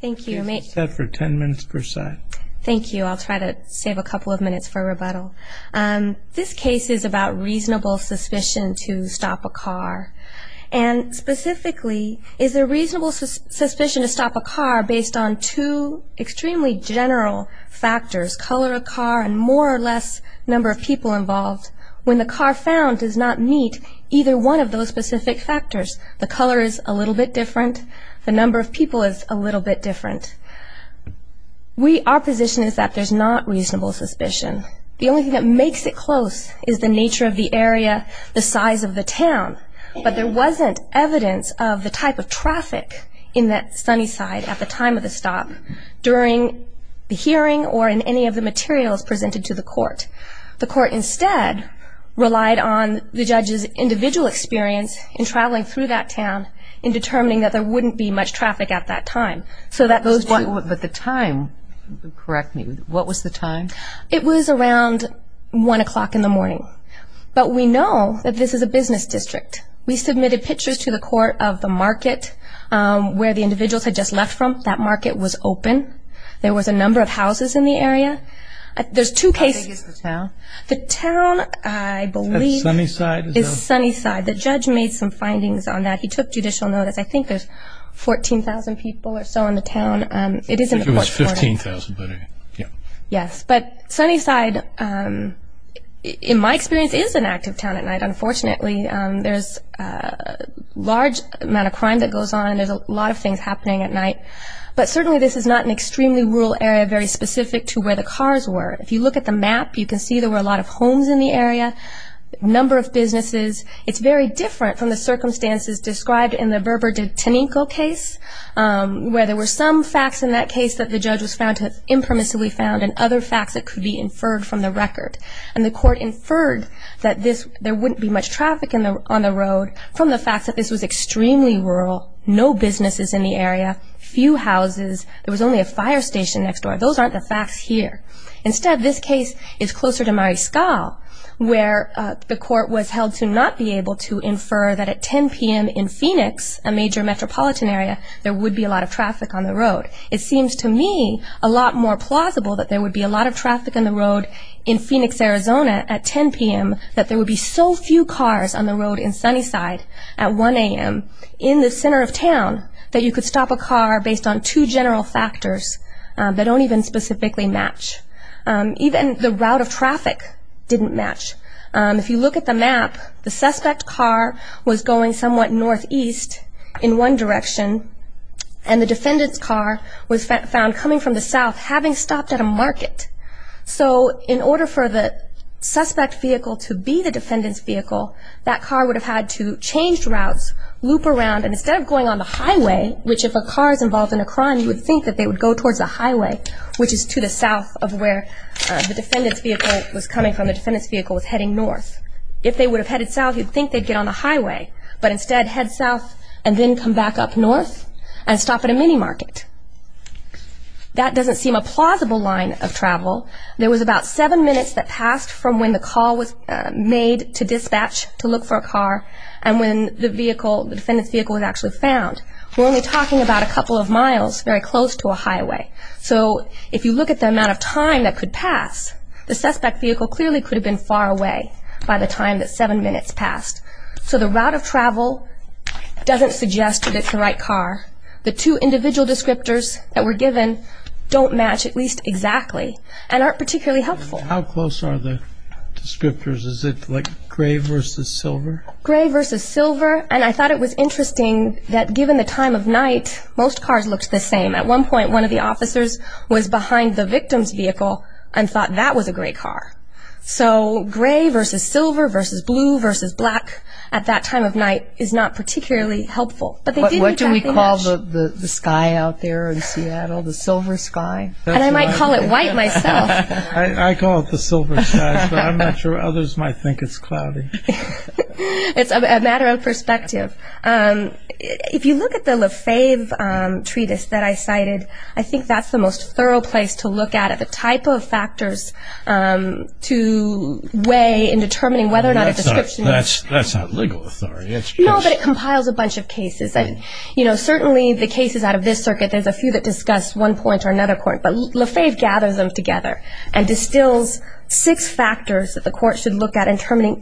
Thank you, I'll try to save a couple of minutes for rebuttal. This case is about reasonable suspicion to stop a car. And specifically, is there reasonable suspicion to stop a car based on two extremely general factors, color of car and more or less number of people involved, when the car found does not meet either one of those specific factors, the color is a little bit different, the number of people is a little bit different. Our position is that there's not reasonable suspicion. The only thing that makes it close is the nature of the area, the size of the town. But there wasn't evidence of the type of traffic in that sunny side at the time of the stop, during the hearing or in any of the materials presented to the court. The court instead relied on the judge's individual experience in traveling through that town in determining that there wouldn't be much traffic at that time. But the time, correct me, what was the time? It was around 1 o'clock in the morning. But we know that this is a business district. We submitted pictures to the court of the market where the individuals had just left from. That market was open. There was a number of houses in the area. How big is the town? The town, I believe, is Sunnyside. The judge made some findings on that. He took judicial notice. I think there's 14,000 people or so in the town. I think it was 15,000. Yes. But Sunnyside, in my experience, is an active town at night, unfortunately. There's a large amount of crime that goes on. There's a lot of things happening at night. But certainly this is not an extremely rural area, very specific to where the cars were. If you look at the map, you can see there were a lot of homes in the area, a number of businesses. It's very different from the circumstances described in the Berber de Teninco case, where there were some facts in that case that the judge was found to have impermissibly found and other facts that could be inferred from the record. And the court inferred that there wouldn't be much traffic on the road from the fact that this was extremely rural, no businesses in the area, few houses. There was only a fire station next door. Those aren't the facts here. Instead, this case is closer to Mariscal, where the court was held to not be able to infer that at 10 p.m. in Phoenix, a major metropolitan area, there would be a lot of traffic on the road. It seems to me a lot more plausible that there would be a lot of traffic on the road in Phoenix, Arizona, at 10 p.m., that there would be so few cars on the road in Sunnyside at 1 a.m. in the center of town that you could stop a car based on two general factors that don't even specifically match. Even the route of traffic didn't match. If you look at the map, the suspect car was going somewhat northeast in one direction, and the defendant's car was found coming from the south, having stopped at a market. So in order for the suspect vehicle to be the defendant's vehicle, that car would have had to change routes, loop around, and instead of going on the highway, which if a car is involved in a crime, you would think that they would go towards the highway, which is to the south of where the defendant's vehicle was coming from. The defendant's vehicle was heading north. If they would have headed south, you'd think they'd get on the highway, but instead head south and then come back up north and stop at a mini market. That doesn't seem a plausible line of travel. There was about seven minutes that passed from when the call was made to dispatch to look for a car and when the defendant's vehicle was actually found. We're only talking about a couple of miles, very close to a highway. So if you look at the amount of time that could pass, the suspect vehicle clearly could have been far away by the time that seven minutes passed. So the route of travel doesn't suggest that it's the right car. The two individual descriptors that were given don't match at least exactly and aren't particularly helpful. How close are the descriptors? Is it like gray versus silver? Gray versus silver. And I thought it was interesting that given the time of night, most cars looked the same. At one point, one of the officers was behind the victim's vehicle and thought that was a gray car. So gray versus silver versus blue versus black at that time of night is not particularly helpful. What do we call the sky out there in Seattle, the silver sky? And I might call it white myself. I call it the silver sky, but I'm not sure others might think it's cloudy. It's a matter of perspective. If you look at the Lefebvre treatise that I cited, I think that's the most thorough place to look at it, the type of factors to weigh in determining whether or not a description is true. That's not legal authority. No, but it compiles a bunch of cases. And certainly the cases out of this circuit, there's a few that discuss one point or another point. But Lefebvre gathers them together and distills six factors that the court should look at in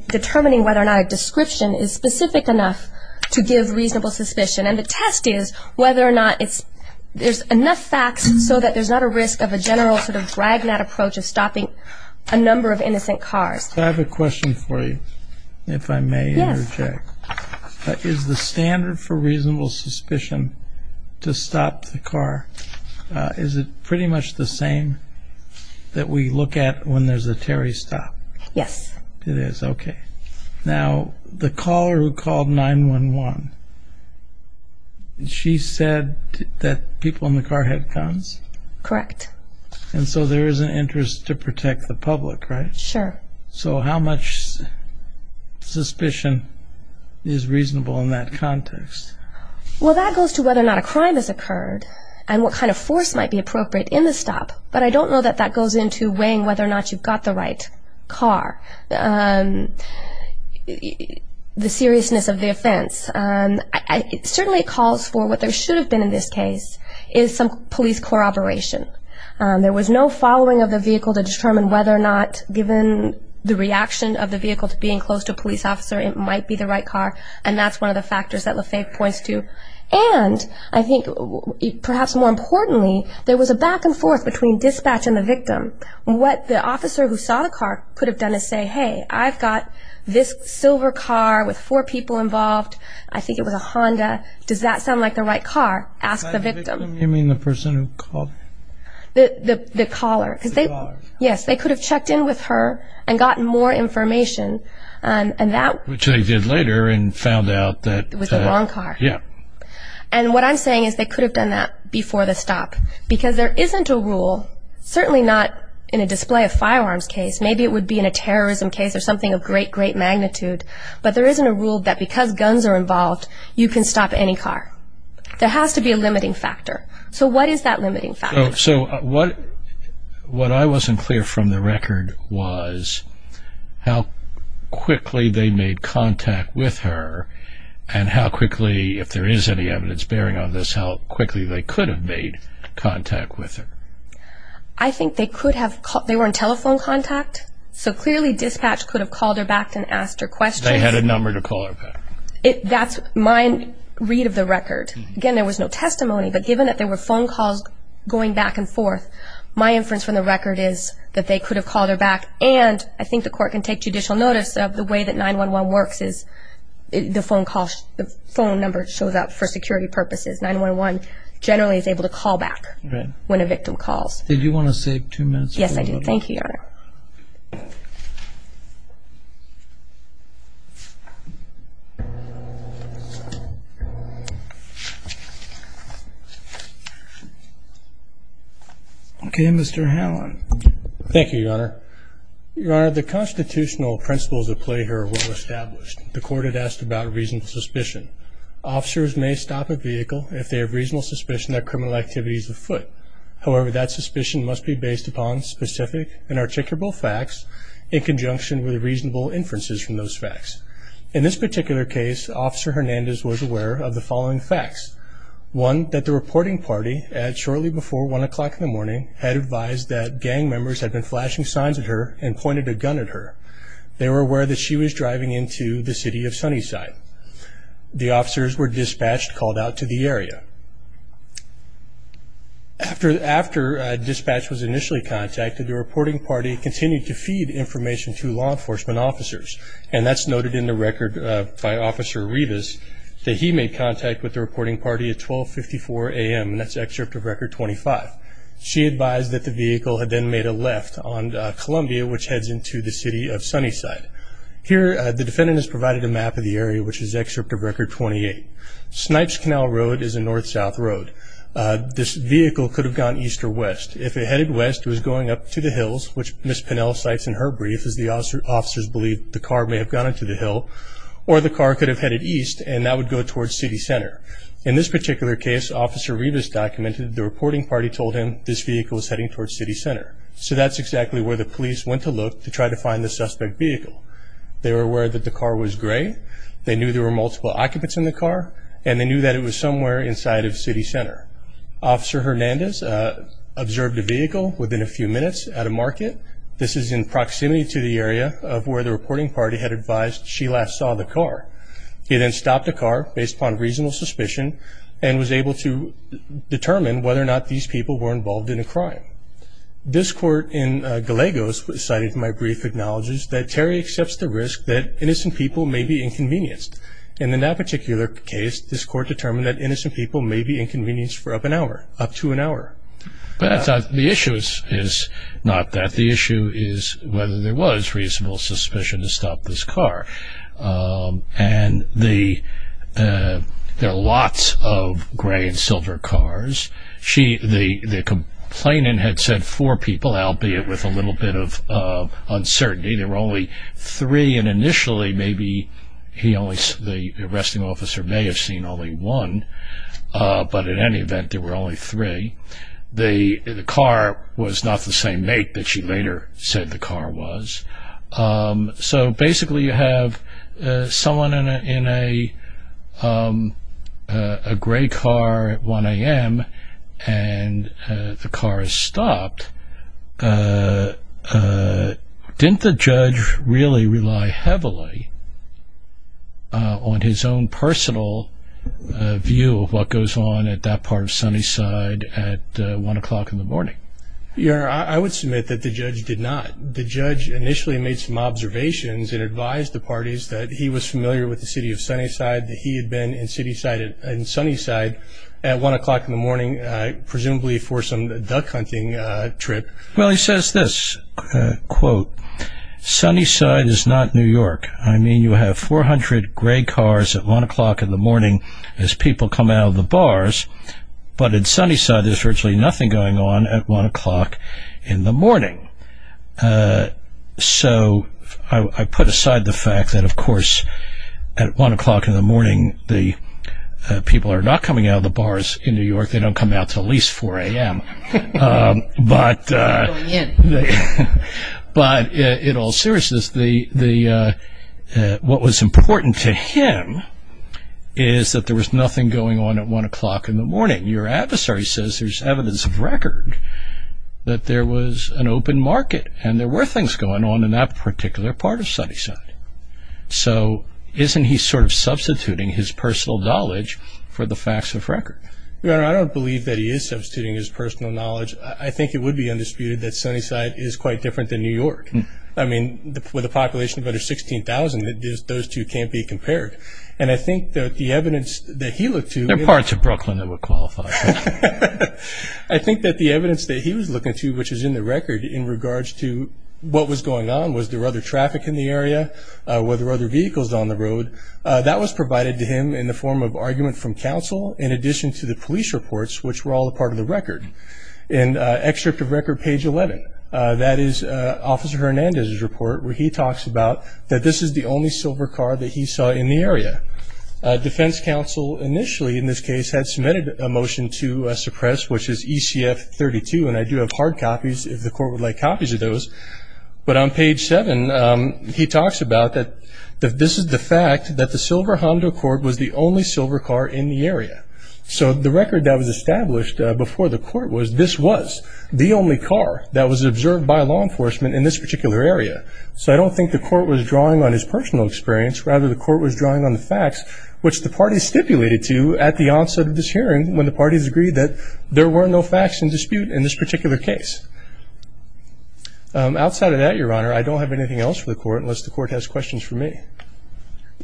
determining whether or not a description is specific enough to give reasonable suspicion. And the test is whether or not there's enough facts so that there's not a risk of a general sort of drag and that approach of stopping a number of innocent cars. I have a question for you, if I may interject. Yes. Is the standard for reasonable suspicion to stop the car, is it pretty much the same that we look at when there's a Terry stop? Yes. It is, okay. Now, the caller who called 911, she said that people in the car had guns? Correct. And so there is an interest to protect the public, right? Sure. So how much suspicion is reasonable in that context? Well, that goes to whether or not a crime has occurred and what kind of force might be appropriate in the stop. But I don't know that that goes into weighing whether or not you've got the right car, the seriousness of the offense. It certainly calls for what there should have been in this case is some police corroboration. There was no following of the vehicle to determine whether or not, given the reaction of the vehicle to being close to a police officer, it might be the right car, and that's one of the factors that LaFave points to. And I think perhaps more importantly, there was a back and forth between dispatch and the victim. What the officer who saw the car could have done is say, hey, I've got this silver car with four people involved, I think it was a Honda, does that sound like the right car? Ask the victim. You mean the person who called? The caller. The caller. Yes, they could have checked in with her and gotten more information. Which they did later and found out that. It was the wrong car. Yeah. And what I'm saying is they could have done that before the stop, because there isn't a rule, certainly not in a display of firearms case, maybe it would be in a terrorism case or something of great, great magnitude, but there isn't a rule that because guns are involved, you can stop any car. There has to be a limiting factor. So what is that limiting factor? So what I wasn't clear from the record was how quickly they made contact with her and how quickly, if there is any evidence bearing on this, how quickly they could have made contact with her. I think they were in telephone contact, so clearly dispatch could have called her back and asked her questions. They had a number to call her back. That's my read of the record. Again, there was no testimony, but given that there were phone calls going back and forth, my inference from the record is that they could have called her back and I think the court can take judicial notice of the way that 911 works is the phone number shows up for security purposes. 911 generally is able to call back when a victim calls. Did you want to save two minutes? Yes, I did. Thank you, Your Honor. Okay, Mr. Hallon. Thank you, Your Honor. Your Honor, the constitutional principles at play here are well established. The court had asked about reasonable suspicion. Officers may stop a vehicle if they have reasonable suspicion that criminal activity is afoot. However, that suspicion must be based upon specific and articulable facts in conjunction with reasonable inferences from those facts. In this particular case, Officer Hernandez was aware of the following facts. One, that the reporting party, shortly before 1 o'clock in the morning, had advised that gang members had been flashing signs at her and pointed a gun at her. They were aware that she was driving into the city of Sunnyside. The officers were dispatched, called out to the area. After dispatch was initially contacted, the reporting party continued to feed information to law enforcement officers, and that's noted in the record by Officer Rivas that he made contact with the reporting party at 1254 a.m., and that's excerpt of Record 25. She advised that the vehicle had then made a left on Columbia, which heads into the city of Sunnyside. Here, the defendant has provided a map of the area, which is excerpt of Record 28. Snipes Canal Road is a north-south road. This vehicle could have gone east or west. If it headed west, it was going up to the hills, which Ms. Pinnell cites in her brief as the officers believed the car may have gone up to the hill, or the car could have headed east, and that would go towards city center. In this particular case, Officer Rivas documented that the reporting party told him this vehicle was heading towards city center. So that's exactly where the police went to look to try to find the suspect vehicle. They were aware that the car was gray. They knew there were multiple occupants in the car, and they knew that it was somewhere inside of city center. Officer Hernandez observed the vehicle within a few minutes at a market. This is in proximity to the area of where the reporting party had advised she last saw the car. He then stopped the car, based upon reasonable suspicion, and was able to determine whether or not these people were involved in a crime. This court in Galegos, cited in my brief, acknowledges that Terry accepts the risk that innocent people may be inconvenienced. In that particular case, this court determined that innocent people may be inconvenienced for up to an hour. The issue is not that. The issue is whether there was reasonable suspicion to stop this car. And there are lots of gray and silver cars. The complainant had said four people, albeit with a little bit of uncertainty. There were only three, and initially maybe the arresting officer may have seen only one. But in any event, there were only three. The car was not the same make that she later said the car was. So basically you have someone in a gray car at 1 a.m., and the car is stopped. Didn't the judge really rely heavily on his own personal view of what goes on at that part of Sunnyside at 1 a.m.? I would submit that the judge did not. The judge initially made some observations and advised the parties that he was familiar with the city of Sunnyside, that he had been in Sunnyside at 1 a.m., presumably for some duck hunting trip. Well, he says this, quote, Sunnyside is not New York. I mean you have 400 gray cars at 1 a.m. as people come out of the bars, but in Sunnyside there's virtually nothing going on at 1 a.m. So I put aside the fact that, of course, at 1 a.m. the people are not coming out of the bars in New York. They don't come out until at least 4 a.m., but in all seriousness, what was important to him is that there was nothing going on at 1 o'clock in the morning. Your adversary says there's evidence of record that there was an open market, and there were things going on in that particular part of Sunnyside. So isn't he sort of substituting his personal knowledge for the facts of record? Your Honor, I don't believe that he is substituting his personal knowledge. I think it would be undisputed that Sunnyside is quite different than New York. I mean with a population of under 16,000, those two can't be compared. And I think that the evidence that he looked to- There are parts of Brooklyn that would qualify. I think that the evidence that he was looking to, which is in the record in regards to what was going on, was there other traffic in the area, were there other vehicles on the road, that was provided to him in the form of argument from counsel in addition to the police reports, which were all a part of the record. In excerpt of record page 11, that is Officer Hernandez's report, where he talks about that this is the only silver car that he saw in the area. Defense counsel initially in this case had submitted a motion to suppress, which is ECF 32, and I do have hard copies if the court would like copies of those. But on page 7, he talks about that this is the fact that the silver Honda Accord was the only silver car in the area. So the record that was established before the court was, this was the only car that was observed by law enforcement in this particular area. So I don't think the court was drawing on his personal experience, rather the court was drawing on the facts, which the party stipulated to at the onset of this hearing when the parties agreed that there were no facts in dispute in this particular case. Outside of that, Your Honor, I don't have anything else for the court unless the court has questions for me.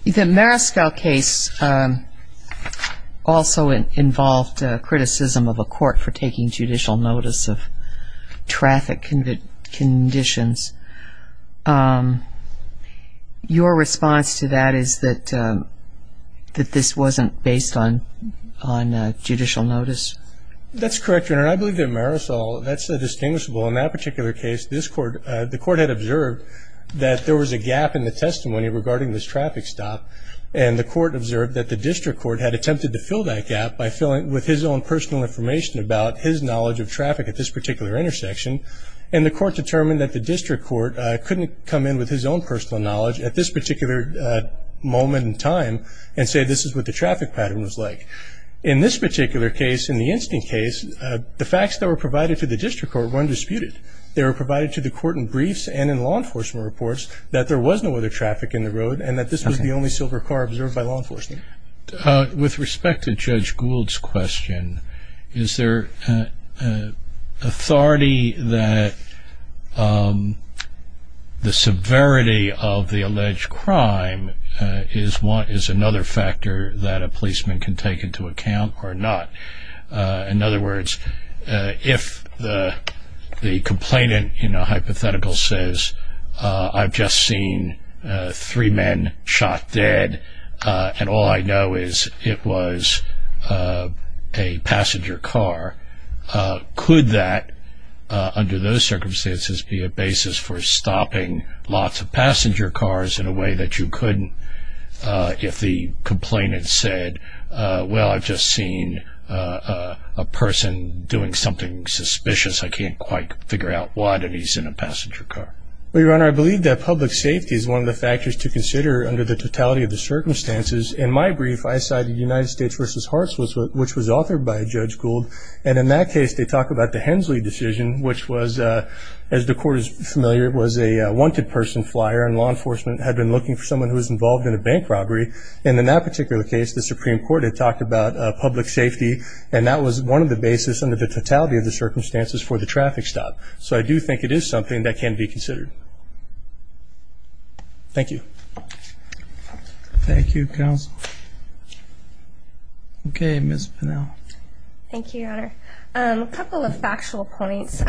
The Marisol case also involved criticism of a court for taking judicial notice of traffic conditions. Your response to that is that this wasn't based on judicial notice? That's correct, Your Honor. I believe that Marisol, that's a distinguishable. In that particular case, the court had observed that there was a gap in the testimony regarding this traffic stop, and the court observed that the district court had attempted to fill that gap with his own personal information about his knowledge of traffic at this particular intersection, and the court determined that the district court couldn't come in with his own personal knowledge at this particular moment in time and say this is what the traffic pattern was like. In this particular case, in the instant case, the facts that were provided to the district court were undisputed. They were provided to the court in briefs and in law enforcement reports that there was no other traffic in the road and that this was the only silver car observed by law enforcement. With respect to Judge Gould's question, is there authority that the severity of the alleged crime is another factor that a policeman can take into account or not? In other words, if the complainant in a hypothetical says, I've just seen three men shot dead and all I know is it was a passenger car, could that, under those circumstances, be a basis for stopping lots of passenger cars in a way that you couldn't if the complainant said, well, I've just seen a person doing something suspicious, I can't quite figure out what, and he's in a passenger car? Well, Your Honor, I believe that public safety is one of the factors to consider under the totality of the circumstances. In my brief, I cited United States v. Hartsford, which was authored by Judge Gould, and in that case they talk about the Hensley decision, which was, as the court is familiar, was a wanted person flyer, and law enforcement had been looking for someone who was involved in a bank robbery, and in that particular case the Supreme Court had talked about public safety, and that was one of the basis under the totality of the circumstances for the traffic stop. So I do think it is something that can be considered. Thank you. Thank you, counsel. Okay, Ms. Pinnell. Thank you, Your Honor. A couple of factual points.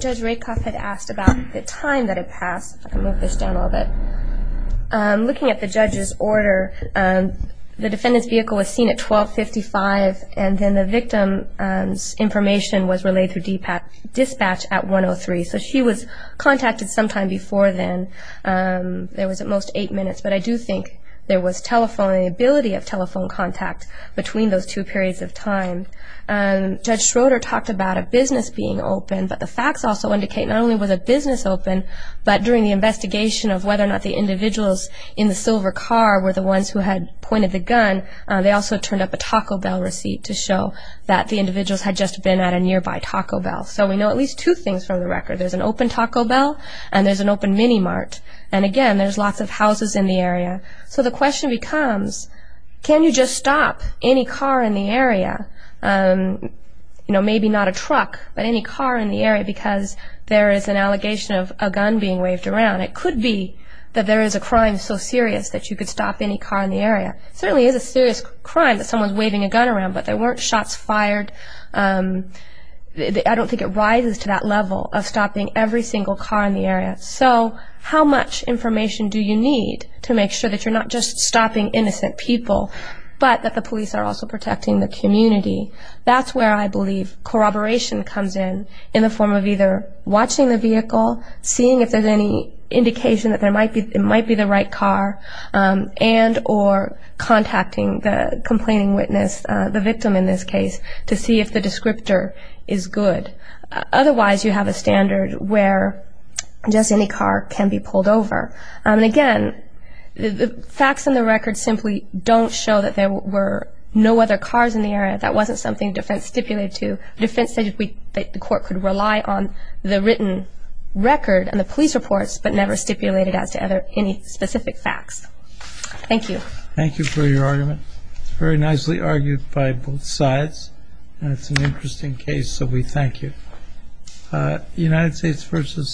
Judge Rakoff had asked about the time that it passed. Let me move this down a little bit. Looking at the judge's order, the defendant's vehicle was seen at 12.55, and then the victim's information was relayed through dispatch at 1.03. So she was contacted sometime before then. It was at most eight minutes, but I do think there was telephonability of telephone contact between those two periods of time. Judge Schroeder talked about a business being open, but the facts also indicate not only was a business open, but during the investigation of whether or not the individuals in the silver car were the ones who had pointed the gun, they also turned up a Taco Bell receipt to show that the individuals had just been at a nearby Taco Bell. So we know at least two things from the record. There's an open Taco Bell and there's an open Mini Mart, and, again, there's lots of houses in the area. So the question becomes, can you just stop any car in the area, you know, maybe not a truck, but any car in the area, because there is an allegation of a gun being waved around. It could be that there is a crime so serious that you could stop any car in the area. It certainly is a serious crime that someone's waving a gun around, but there weren't shots fired. I don't think it rises to that level of stopping every single car in the area. So how much information do you need to make sure that you're not just stopping innocent people, but that the police are also protecting the community? That's where I believe corroboration comes in, in the form of either watching the vehicle, seeing if there's any indication that it might be the right car, and or contacting the complaining witness, the victim in this case, to see if the descriptor is good. Otherwise, you have a standard where just any car can be pulled over. And, again, the facts in the record simply don't show that there were no other cars in the area. That wasn't something defense stipulated to. Defense said that the court could rely on the written record and the police reports, but never stipulated as to any specific facts. Thank you. Thank you for your argument. It's very nicely argued by both sides, and it's an interesting case, so we thank you. United States v.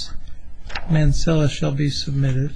Mancilla shall be submitted.